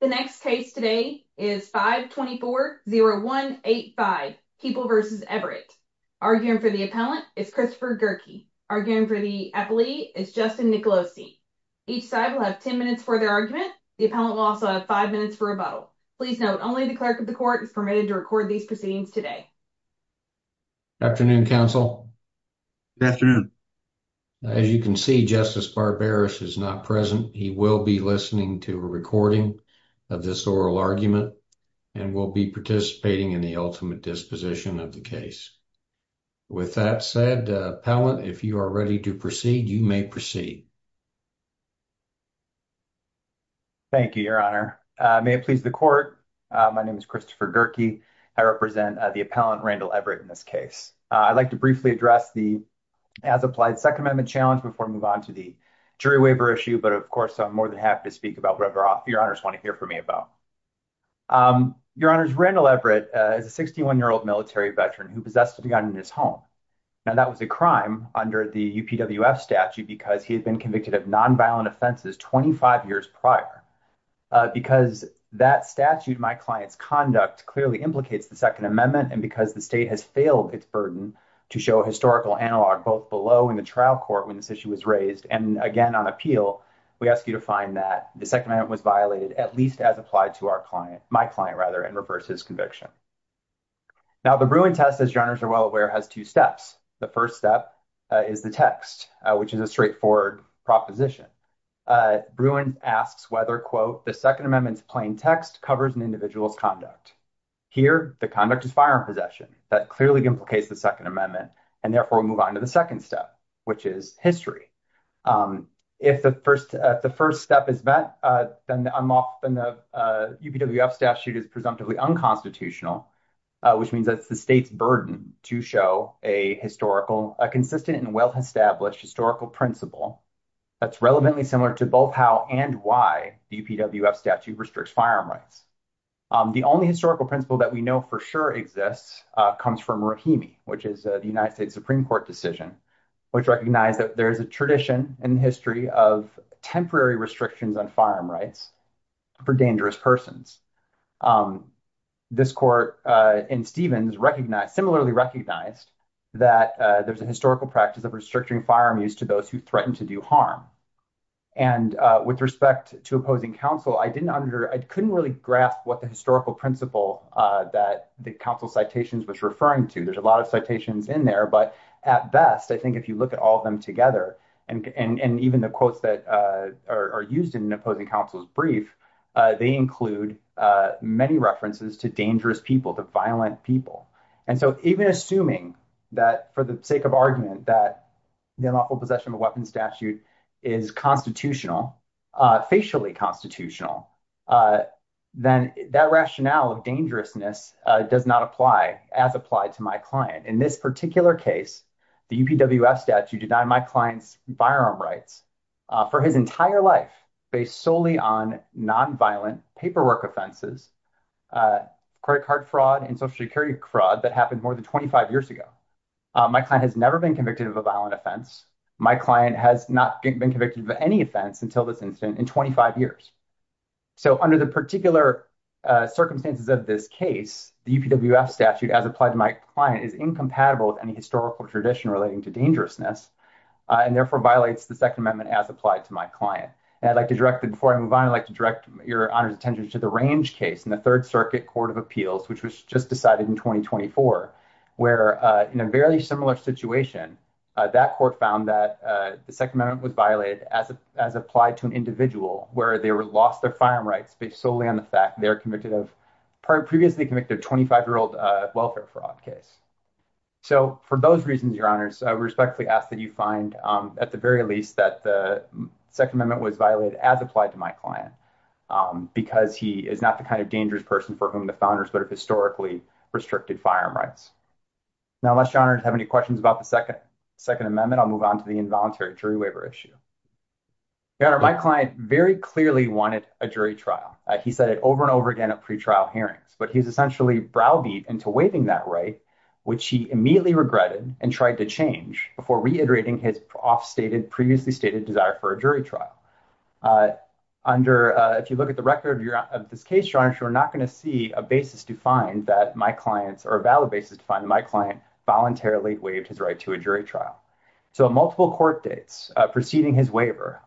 The next case today is 524-0185, People v. Everitt. Arguing for the appellant is Christopher Gerke. Arguing for the appellee is Justin Nicolosi. Each side will have 10 minutes for their argument. The appellant will also have 5 minutes for rebuttal. Please note, only the clerk of the court is permitted to record these proceedings today. Afternoon, counsel. Good afternoon. As you can see, Justice Barbaras is not present. He will be listening to a recording of this oral argument and will be participating in the ultimate disposition of the case. With that said, appellant, if you are ready to proceed, you may proceed. Thank you, Your Honor. May it please the court, my name is Christopher Gerke. I represent the appellant, Randall Everitt, in this case. I'd like to briefly address the as-applied Second Amendment challenge before I move on to the jury waiver issue. But of course, I'm more than happy to speak about whatever Your Honors want to hear from me about. Your Honors, Randall Everitt is a 61-year-old military veteran who possessed a gun in his home. Now, that was a crime under the UPWF statute because he had been convicted of nonviolent offenses 25 years prior. Because that statute, my client's conduct clearly implicates the Second Amendment, and because the state has failed its burden to show a historical analog both below in the trial court when this issue was raised, and again on appeal, we ask you to find that the Second Amendment was violated at least as applied to my client and reverse his conviction. Now, the Bruin test, as Your Honors are well aware, has two steps. The first step is the text, which is a straightforward proposition. Bruin asks whether, quote, the Second Amendment's plain text covers an individual's conduct. Here, the conduct is firearm possession. That clearly implicates the Second Amendment, and therefore we move on to the second step, which is history. If the first step is met, then the UPWF statute is presumptively unconstitutional, which means that it's the state's burden to show a historical, a consistent and well-established historical principle that's relevantly similar to both how and why the UPWF statute restricts firearm rights. The only historical principle that we know for sure exists comes from Rahimi, which is the United States Supreme Court decision, which recognized that there is a tradition in history of temporary restrictions on firearm rights for dangerous persons. This court in Stevens recognized, similarly recognized, that there's a historical practice of restricting firearm use to those who threaten to do harm. And with respect to opposing counsel, I didn't under, I couldn't really grasp what the historical principle that the counsel citations was referring to. There's a lot of citations in there. But at best, I think if you look at all of them together, and even the quotes that are used in an opposing counsel's brief, they include many references to dangerous people, to violent people. And so even assuming that for the sake of argument, that the unlawful possession of a weapon statute is constitutional, facially constitutional, then that rationale of dangerousness does not apply as applied to my client. In this particular case, the UPWF statute denied my client's firearm rights for his entire life, based solely on nonviolent paperwork offenses, credit card fraud and social security fraud that happened more than 25 years ago. My client has never been convicted of a violent offense. My client has not been convicted of any offense until this incident in 25 years. So under the particular circumstances of this case, the UPWF statute as applied to my client is incompatible with any historical tradition relating to dangerousness, and therefore violates the Second Amendment as applied to my client. And I'd like to direct, before I move on, I'd like to direct your honor's attention to the Range case in the Third Circuit Court of Appeals, which was just decided in 2024, where in a very similar situation, that court found that the Second Amendment was violated as applied to an individual where they lost their firearm rights, based solely on the fact they were previously convicted of 25-year-old welfare fraud case. So for those reasons, your honors, I respectfully ask that you find at the very least that the Second Amendment was violated as applied to my client, because he is not the kind of dangerous person for whom the founders historically restricted firearm rights. Now, unless your honors have any questions about the Second Amendment, I'll move on to the involuntary jury waiver issue. Your honor, my client very clearly wanted a jury trial. He said it over and over again at pretrial hearings, but he's essentially browbeat into waiving that right, which he immediately regretted and tried to change before reiterating his off-stated, previously stated desire for a jury trial. Under, if you look at the record of this case, your honors, you're not going to see a basis to find that my client's, or a valid basis to find my client voluntarily waived his right to a jury trial. So multiple court dates preceding his waiver,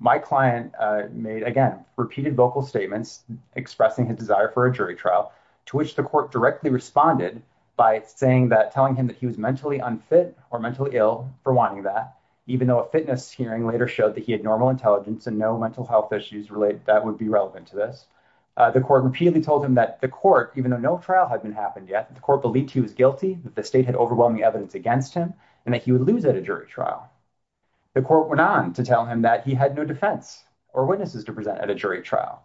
my client made, again, repeated vocal statements expressing his desire for a jury trial, to which the court directly responded by saying that, telling him that he was mentally unfit or mentally ill for wanting that, even though a fitness hearing later showed that he had normal intelligence and no mental health issues related, that would be relevant to this. The court repeatedly told him that the court, even though no trial had been happened yet, the court believed he was guilty, that the state had overwhelming evidence against him, and that he would lose at a jury trial. The court went on to tell him that he had no defense or witnesses to present at a jury trial.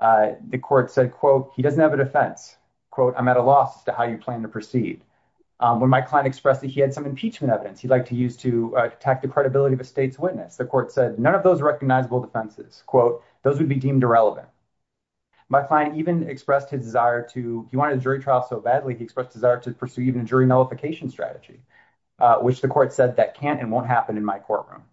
The court said, quote, he doesn't have a defense, quote, I'm at a loss as to how you plan to proceed. When my client expressed that he had some impeachment evidence he'd like to use to attack the credibility of a state's witness, the court said, none of those recognizable defenses, quote, those would be deemed irrelevant. My client even expressed his desire to, he wanted a jury trial so badly, he expressed desire to pursue even a jury nullification strategy. Which the court said that can't and won't happen in my courtroom.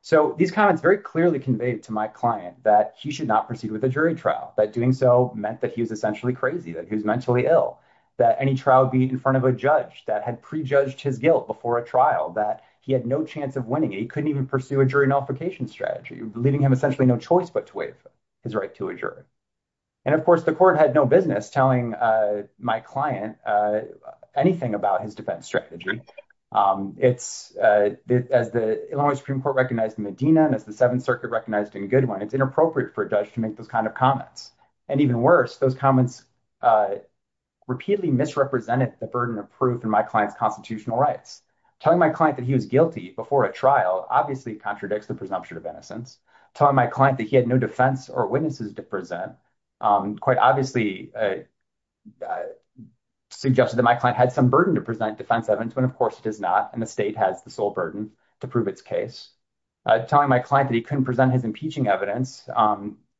So these comments very clearly conveyed to my client that he should not proceed with a jury trial, that doing so meant that he was essentially crazy, that he was mentally ill, that any trial would be in front of a judge that had prejudged his guilt before a trial, that he had no chance of winning, he couldn't even pursue a jury nullification strategy, leaving him essentially no choice but to waive his right to a jury. And of course, the court had no business telling my client anything about his defense strategy. As the Illinois Supreme Court recognized in Medina and as the Seventh Circuit recognized in Goodwin, it's inappropriate for a judge to make those kind of comments. And even worse, those comments repeatedly misrepresented the burden of proof in my client's constitutional rights. Telling my client that he was guilty before a trial obviously contradicts the presumption of innocence. Telling my client that he had no defense or witnesses to present quite obviously suggested that my client had some burden to present defense evidence when of course it is not, and the state has the sole burden to prove its case. Telling my client that he couldn't present his impeaching evidence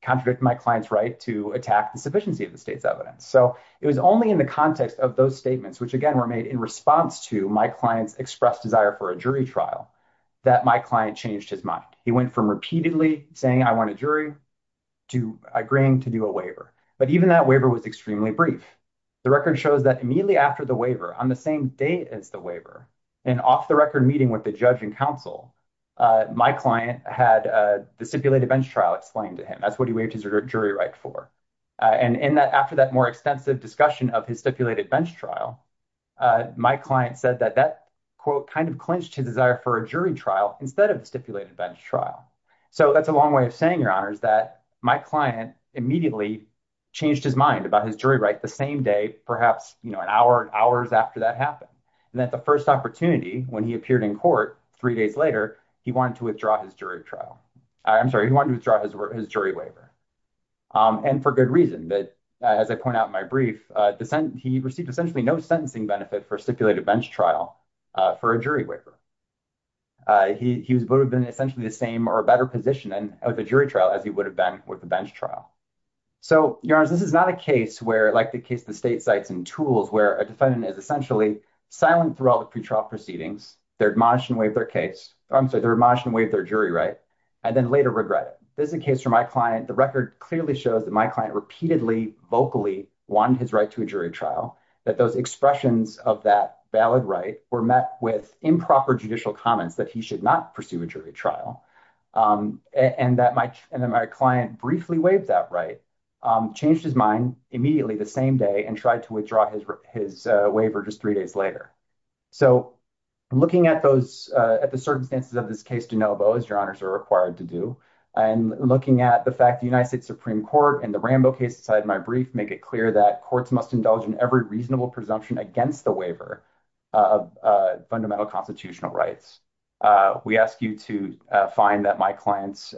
contradict my client's right to attack the sufficiency of the state's evidence. So it was only in the context of those statements, which again were made in response to my client's expressed desire for a jury trial, that my client changed his mind. He went from repeatedly saying, I want a jury to agreeing to do a waiver. But even that waiver was extremely brief. The record shows that immediately after the waiver, on the same day as the waiver, an off the record meeting with the judge and counsel, my client had the stipulated bench trial explained to him. That's what he waived his jury right for. And in that, after that more extensive discussion of his stipulated bench trial, my client said that that quote, kind of clinched his desire for a jury trial instead of the stipulated bench trial. So that's a long way of saying, your honors, that my client immediately changed his mind about his jury right the same day, perhaps an hour, hours after that happened. And that the first opportunity, when he appeared in court three days later, he wanted to withdraw his jury trial. I'm sorry, he wanted to withdraw his jury waiver. And for good reason, that as I point out in my brief, he received essentially no sentencing benefit for stipulated bench trial for a jury waiver. He would have been essentially the same or a better position with a jury trial as he would have been with a bench trial. So, your honors, this is not a case where, like the case of the state sites and tools, where a defendant is essentially silent through all the pretrial proceedings, they're admonished and waived their case. I'm sorry, they're admonished and waived their jury right, and then later regret it. This is a case for my client. The record clearly shows that my client repeatedly, vocally won his right to a jury trial, that those expressions of that valid right were met with improper judicial comments that he should not pursue a jury trial, and that my client briefly waived that right, changed his mind immediately the same day and tried to withdraw his waiver just three days later. So, looking at the circumstances of this case de novo, as your honors are required to do, and looking at the fact the United States Supreme Court and the Rambo case inside my brief make it clear that courts must indulge in every reasonable presumption against the waiver of fundamental constitutional rights. We ask you to find that my client's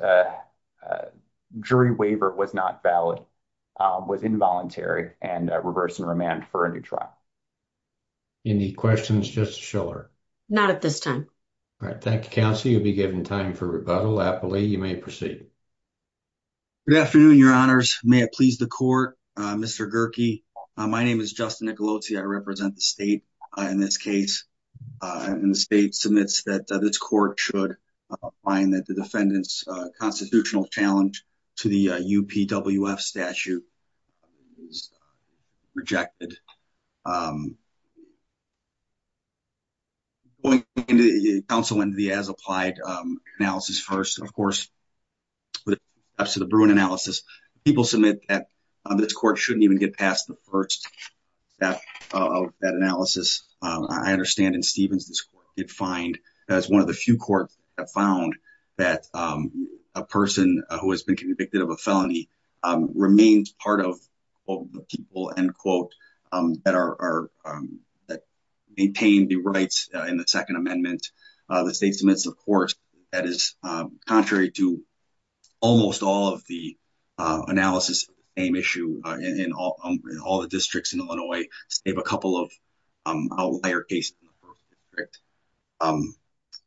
jury waiver was not valid, was involuntary, and reverse and remand for a new trial. Any questions, Justice Schiller? Not at this time. All right, thank you, counsel. You'll be given time for rebuttal. I believe you may proceed. Good afternoon, your honors. May it please the court. Mr. Gerke, my name is Justin Nicolozzi. I represent the state in this case, and the state submits that this court should find that the defendant's constitutional challenge to the UPWF statute is rejected. Counsel, when the as-applied analysis first, of course, up to the Bruin analysis, people submit that this court shouldn't even get past the first step of that analysis. I understand in Stevens, this court did find as one of the few courts that found that a person who has been convicted of a felony remains part of the people, end quote, that are, that maintain the rights in the second amendment. The state submits, of course, that is contrary to almost all of the analysis of the same issue in all the districts in Illinois. They have a couple of outlier cases in the first district.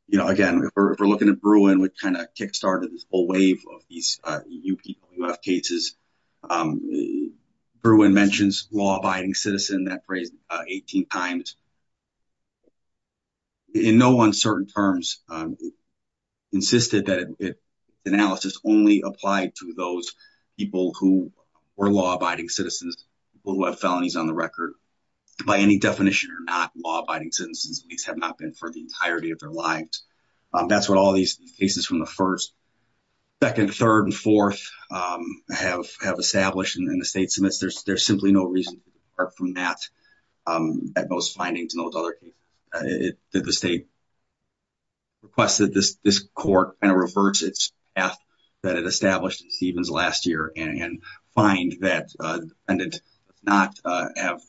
You know, again, if we're looking at Bruin, which kind of kickstarted this whole wave of these UPWF cases, Bruin mentions law-abiding citizen, that phrase 18 times. In no uncertain terms, insisted that analysis only applied to those people who were law-abiding citizens, people who have felonies on the record. By any definition or not, law-abiding citizens have not been for the entirety of their lives. That's what all these cases from the first, second, third, and fourth have established, and then the state submits. There's simply no reason to depart from that at most findings. In those other cases that the state requested, this court kind of reverts its path that it established in Stevens last year and find that the defendant does not have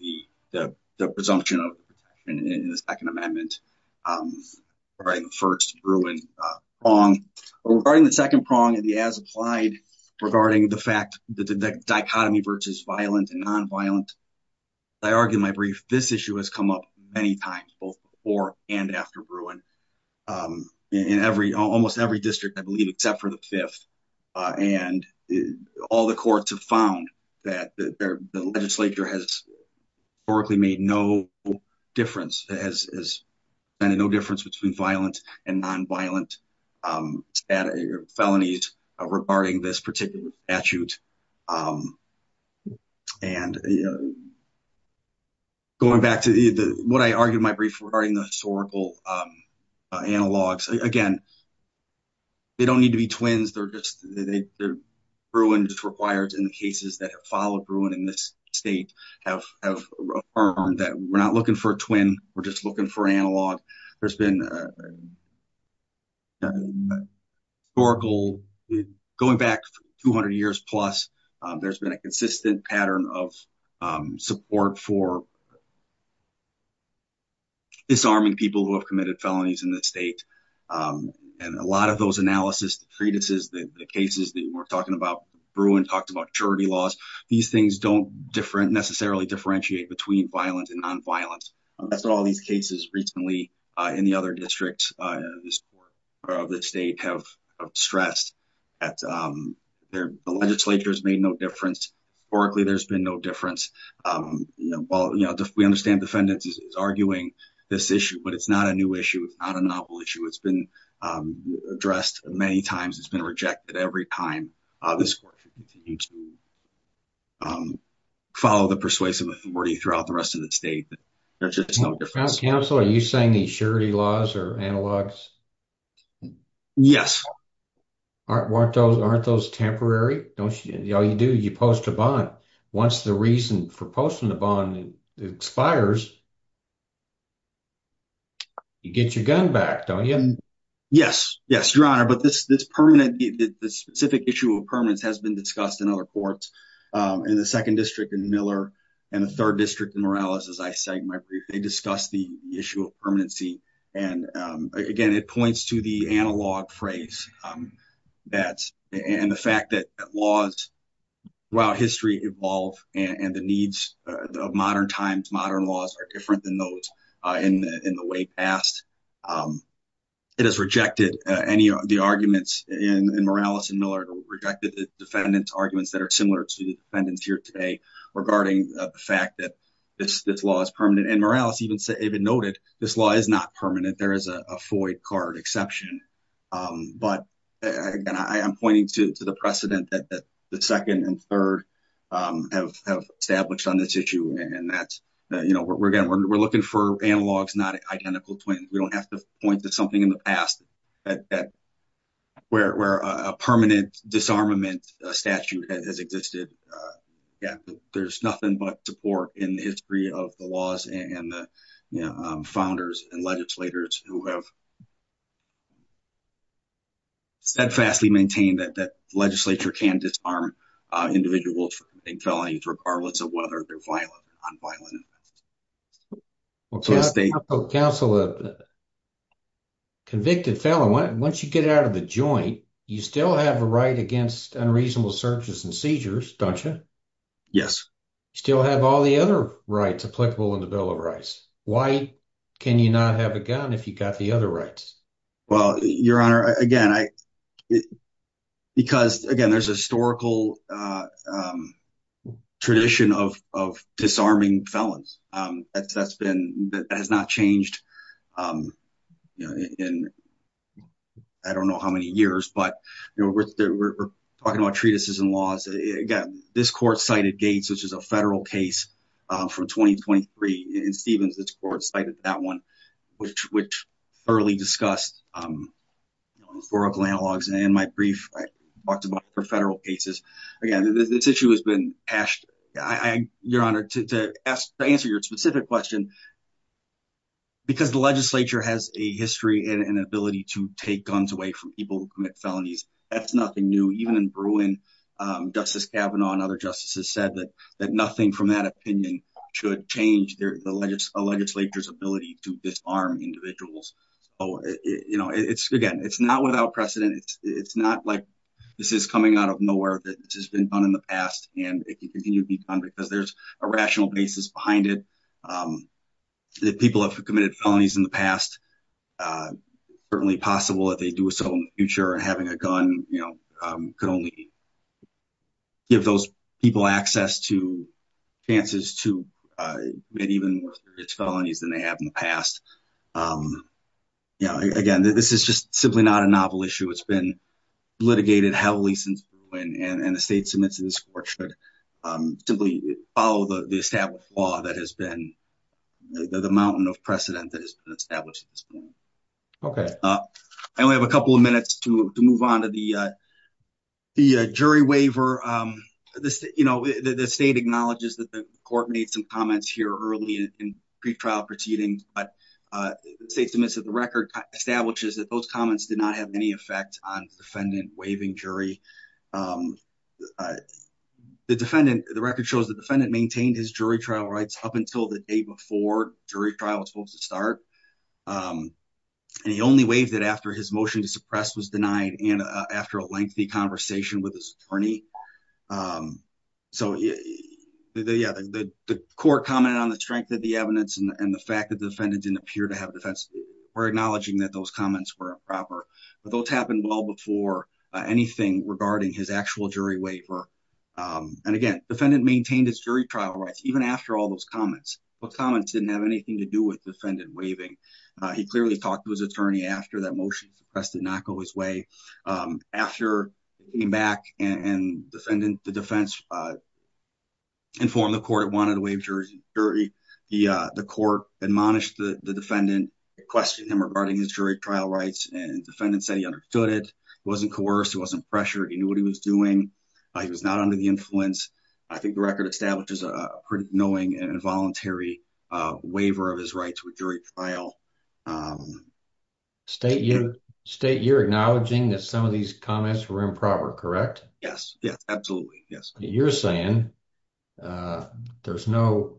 the presumption of protection in the Second Amendment regarding the first Bruin prong. But regarding the second prong and the as-applied, regarding the fact that the dichotomy versus violent and non-violent, I argue in my brief, this issue has come up many times, both before and after Bruin. Almost every district, I believe, except for the fifth, and all the courts have found that the legislature has historically made no difference. It has made no difference between violent and non-violent felonies regarding this particular statute. And going back to what I argued in my brief regarding the historical analogs, again, they don't need to be twins. The Bruins required in the cases that have followed Bruin in this state have affirmed that we're not looking for a twin. We're just looking for analog. There's been a historical, going back 200 years plus, there's been a consistent pattern of support for disarming people who have committed felonies in the state. And a lot of those analysis, the cases that we're talking about, Bruin talked about maturity laws. These things don't necessarily differentiate between violent and non-violent. That's what all these cases recently in the other districts of the state have stressed that the legislature has made no difference. Historically, there's been no difference. Well, we understand defendants is arguing this issue, but it's not a new issue. It's not a novel issue. It's been addressed many times. It's been rejected every time this court should continue to follow the persuasive authority throughout the rest of the state. But there's just no difference. So are you saying these surety laws are analogs? Yes. Aren't those temporary? All you do, you post a bond. Once the reason for posting the bond expires, you get your gun back, don't you? Yes, yes, Your Honor. But this specific issue of permanence has been discussed in other courts in the second district in Miller and the third district in Morales. As I said in my brief, they discussed the issue of permanency. And again, it points to the analog phrase and the fact that laws throughout history evolve and the needs of modern times, modern laws are different than those in the way past. It has rejected any of the arguments in Morales and Miller. It rejected the defendants' arguments that are similar to the defendants here today regarding the fact that this law is permanent. And Morales even noted, this law is not permanent. There is a FOIA card exception. But again, I'm pointing to the precedent that the second and third have established on this issue. And that's, you know, we're looking for analogs, not identical twins. We don't have to point to something in the past where a permanent disarmament statute has existed. Yeah, there's nothing but support in the history of the laws and the founders and legislators who have steadfastly maintained that the legislature can disarm individuals in felonies regardless of whether they're violent or nonviolent. Well, counsel, a convicted felon, once you get out of the joint, you still have a right against unreasonable searches and seizures, don't you? Yes. You still have all the other rights applicable in the Bill of Rights. Why can you not have a gun if you got the other rights? Well, your honor, again, because again, there's a historical tradition of disarming felons. That's been, that has not changed in I don't know how many years, but we're talking about treatises and laws. This court cited Gates, which is a federal case from 2023 and Stevens, this court cited that one, which thoroughly discussed rhetorical analogs. And in my brief, I talked about federal cases. Again, this issue has been hashed. Your honor, to answer your specific question, because the legislature has a history and an ability to take guns away from people who commit felonies. That's nothing new. Even in Bruin, Justice Kavanaugh and other justices said that nothing from that opinion should change the legislature's ability to disarm individuals. You know, it's again, it's not without precedent. It's not like this is coming out of nowhere that this has been done in the past and it can continue to be done because there's a rational basis behind it. That people have committed felonies in the past. Certainly possible if they do so in the future, having a gun, you know, could only give those people access to chances to maybe even more serious felonies than they have in the past. You know, again, this is just simply not a novel issue. It's been litigated heavily since Bruin and the state submits to this court should simply follow the established law that has been the mountain of precedent that has been established at this point. Okay. I only have a couple of minutes to move on to the jury waiver. You know, the state acknowledges that the court made some comments here early in pretrial proceedings, but the state submits to the record, establishes that those comments did not have any effect on defendant waiving jury. The defendant, the record shows the defendant maintained his jury trial rights up until the day before jury trial was supposed to start. And he only waived it after his motion to suppress was denied and after a lengthy conversation with his attorney. So yeah, the court commented on the strength of the evidence and the fact that the defendant didn't appear to have a defense. We're acknowledging that those comments were improper, but those happened well before anything regarding his actual jury waiver. And again, defendant maintained his jury trial rights even after all those comments, but comments didn't have anything to do with defendant waiving. He clearly talked to his attorney after that motion suppressed did not go his way. After he came back and defendant, the defense informed the court it wanted to waive jury. The court admonished the defendant, questioned him regarding his jury trial rights and defendant said he understood it. He wasn't coerced. He wasn't pressured. He knew what he was doing. He was not under the influence. I think the record establishes a pretty annoying and involuntary waiver of his rights with jury trial. State, you're acknowledging that some of these comments were improper, correct? Yes, yes, absolutely, yes. You're saying there's no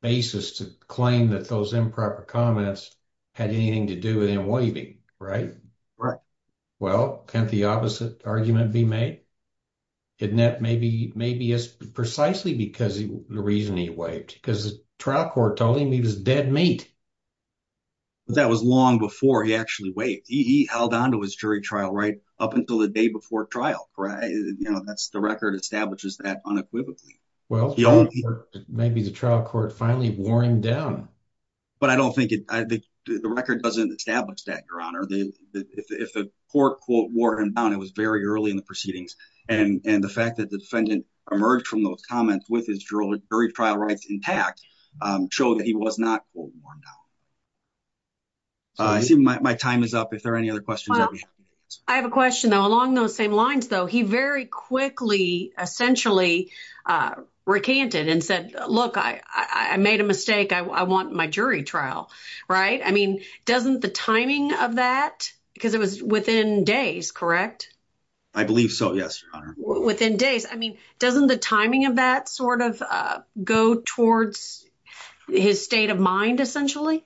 basis to claim that those improper comments had anything to do with him waiving, right? Right. Well, can't the opposite argument be made? And that maybe is precisely because the reason he waived because the trial court told him he was dead meat. That was long before he actually waived. He held on to his jury trial, right? Up until the day before trial, right? You know, that's the record establishes that unequivocally. Well, maybe the trial court finally wore him down. But I don't think it, I think the record doesn't establish that, Your Honor. If the court, quote, wore him down, it was very early in the proceedings. And the fact that the defendant emerged from those comments with his jury trial rights intact showed that he was not, quote, worn down. I see my time is up. If there are any other questions. I have a question though. Along those same lines though, he very quickly essentially recanted and said, look, I made a mistake. I want my jury trial, right? I mean, doesn't the timing of that, because it was within days, correct? I believe so. Yes, Your Honor. Within days. I mean, doesn't the timing of that sort of go towards his state of mind, essentially?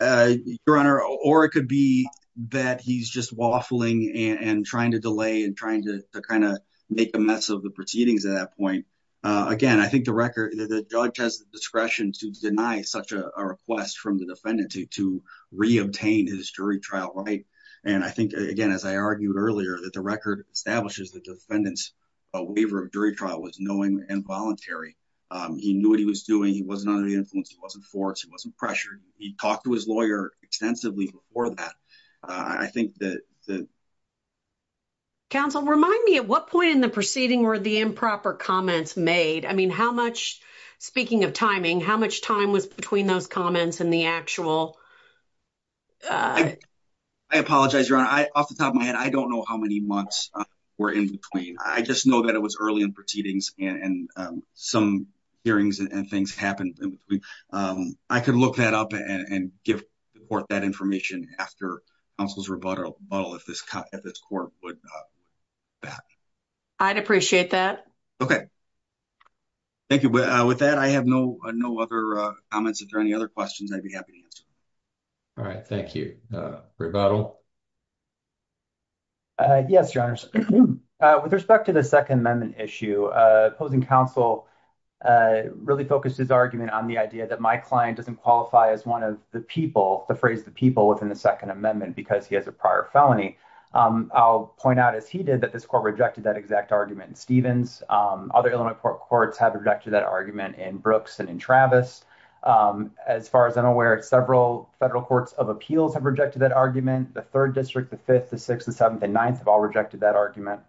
Your Honor, or it could be that he's just waffling and trying to delay and trying to kind of make a mess of the proceedings at that point. Again, I think the record, the judge has the discretion to deny such a request from the defendant to reobtain his jury trial right. And I think, again, as I argued earlier, that the record establishes the defendant's waiver of jury trial was knowing and voluntary. He knew what he was doing. He wasn't under the influence. He wasn't forced. He wasn't pressured. He talked to his lawyer extensively before that. I think that... Counsel, remind me at what point in the proceeding were the improper comments made? I mean, how much, speaking of timing, how much time was between those comments and the actual... I apologize, Your Honor. Off the top of my head, I don't know how many months were in between. I just know that it was early in proceedings and some hearings and things happened in between. I could look that up and give the court that information after counsel's rebuttal if this court would back. I'd appreciate that. Okay. Thank you. With that, I have no other comments. If there are any other questions, I'd be happy to answer. All right, thank you. Rebuttal? Yes, Your Honor. With respect to the Second Amendment issue, opposing counsel really focused his argument on the idea that my client doesn't qualify as one of the people, the phrase, the people within the Second Amendment because he has a prior felony. I'll point out, as he did, that this court rejected that exact argument in Stevens. Other Illinois courts have rejected that argument in Brooks and in Travis. As far as I'm aware, several federal courts of appeals have rejected that argument. The Third District, the Fifth, the Sixth, the Seventh, and Ninth have all rejected that argument.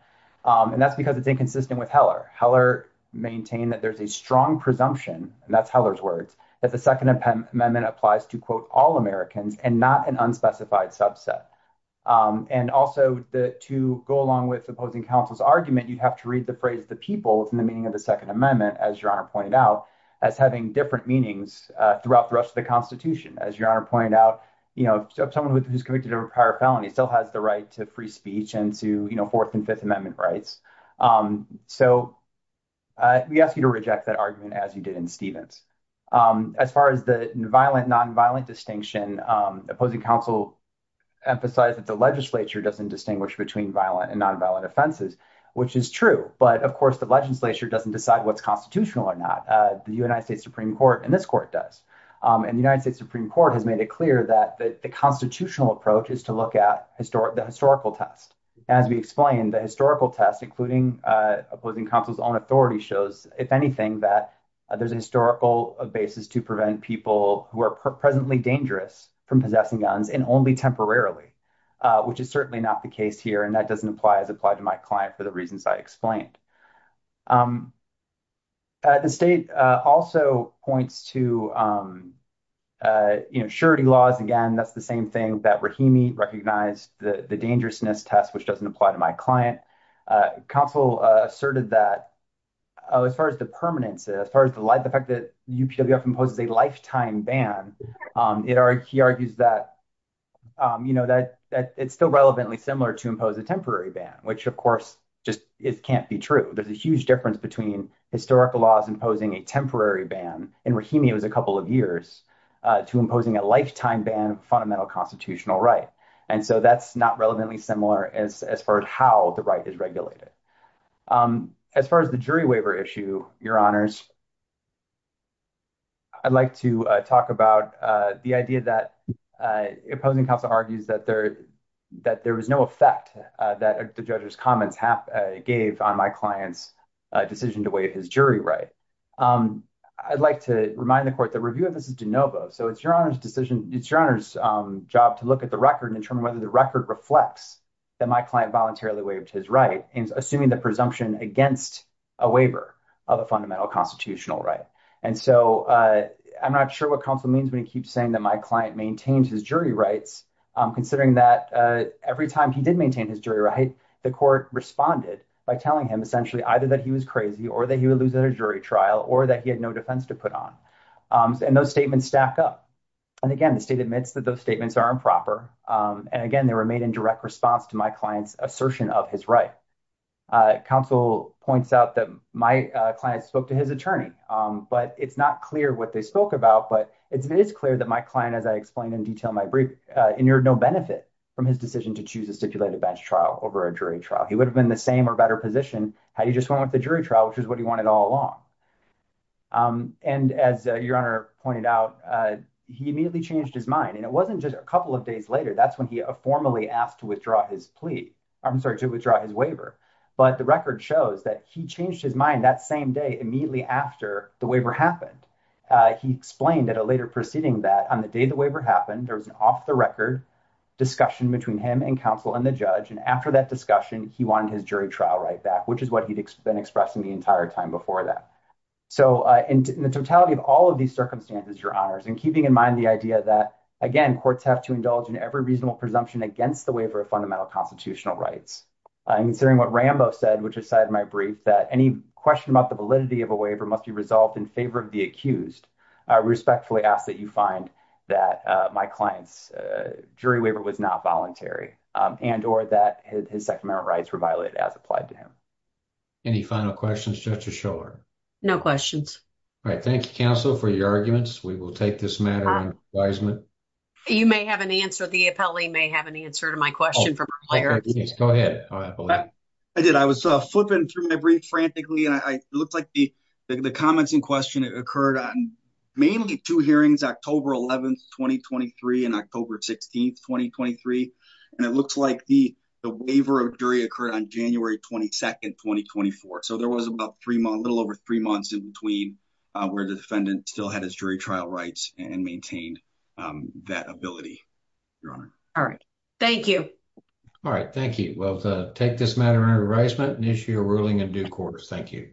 And that's because it's inconsistent with Heller. Heller maintained that there's a strong presumption, and that's Heller's words, that the Second Amendment applies to, quote, all Americans and not an unspecified subset. And also, to go along with opposing counsel's argument, you'd have to read the phrase, the people, within the meaning of the Second Amendment, as Your Honor pointed out, as having different meanings throughout the rest of the Constitution. As Your Honor pointed out, someone who's convicted of a prior felony still has the right to free speech and to Fourth and Fifth Amendment rights. So we ask you to reject that argument as you did in Stevens. As far as the violent, nonviolent distinction, opposing counsel emphasized that the legislature doesn't distinguish between violent and nonviolent offenses, which is true. But of course, the legislature doesn't decide what's constitutional or not. The United States Supreme Court and this court does. And the United States Supreme Court has made it clear that the constitutional approach is to look at the historical test. As we explained, the historical test, including opposing counsel's own authority, shows, if anything, that there's a historical basis to prevent people who are presently dangerous from possessing guns and only temporarily, which is certainly not the case here. And that doesn't apply as applied to my client for the reasons I explained. The state also points to surety laws. Again, that's the same thing, that Rahimi recognized the dangerousness test, which doesn't apply to my client. Counsel asserted that as far as the permanence, as far as the light, the fact that UPWF imposes a lifetime ban, he argues that it's still relevantly similar to impose a temporary ban, which of course just can't be true. There's a huge difference between historical laws imposing a temporary ban, and Rahimi, it was a couple of years, to imposing a lifetime ban of fundamental constitutional right. And so that's not relevantly similar as far as how the right is regulated. As far as the jury waiver issue, your honors, I'd like to talk about the idea that opposing counsel argues that there was no effect that the judge's comments gave on my client's decision to waive his jury right. I'd like to remind the court the review of this is de novo. So it's your honor's decision, it's your honor's job to look at the record and determine whether the record reflects that my client voluntarily waived his right. And assuming the presumption against a waiver of a fundamental constitutional right. And so I'm not sure what counsel means when he keeps saying that my client maintains his jury rights, considering that every time he did maintain his jury right, the court responded by telling him essentially either that he was crazy or that he would lose at a jury trial or that he had no defense to put on. And those statements stack up. And again, the state admits that those statements are improper. And again, they were made in direct response to my client's assertion of his right. Counsel points out that my client spoke to his attorney, but it's not clear what they spoke about. But it is clear that my client, as I explained in detail in my brief, inured no benefit from his decision to choose a stipulated bench trial over a jury trial. He would have been the same or better position had he just went with the jury trial, which is what he wanted all along. And as your honor pointed out, he immediately changed his mind. And it wasn't just a couple of days later, that's when he formally asked to withdraw his plea. I'm sorry, to withdraw his waiver. But the record shows that he changed his mind that same day immediately after the waiver happened. He explained at a later proceeding that on the day the waiver happened, there was an off the record discussion between him and counsel and the judge. And after that discussion, he wanted his jury trial right back, which is what he'd been expressing the entire time before that. So in the totality of all of these circumstances, your honors, and keeping in mind the idea that, again, courts have to indulge in every reasonable presumption against the waiver of fundamental constitutional rights. And considering what Rambo said, which is cited in my brief, that any question about the validity of a waiver must be resolved in favor of the accused. I respectfully ask that you find that my client's jury waiver was not voluntary and or that his Second Amendment rights were violated as applied to him. Any final questions, Judge O'Shaughner? No questions. All right. Thank you, counsel, for your arguments. We will take this matter on advisement. You may have an answer. The appellee may have an answer to my question. Go ahead. I did. I was flipping through my brief frantically, and it looked like the comments in question occurred on mainly two hearings, October 11th, 2023 and October 16th, 2023. And it looks like the waiver of jury occurred on January 22nd, 2024. So there was a little over three months in between where the defendant still had his jury trial rights and maintained that ability. All right. Thank you. All right. Thank you. We'll take this matter in advisement and issue a ruling in due course. Thank you.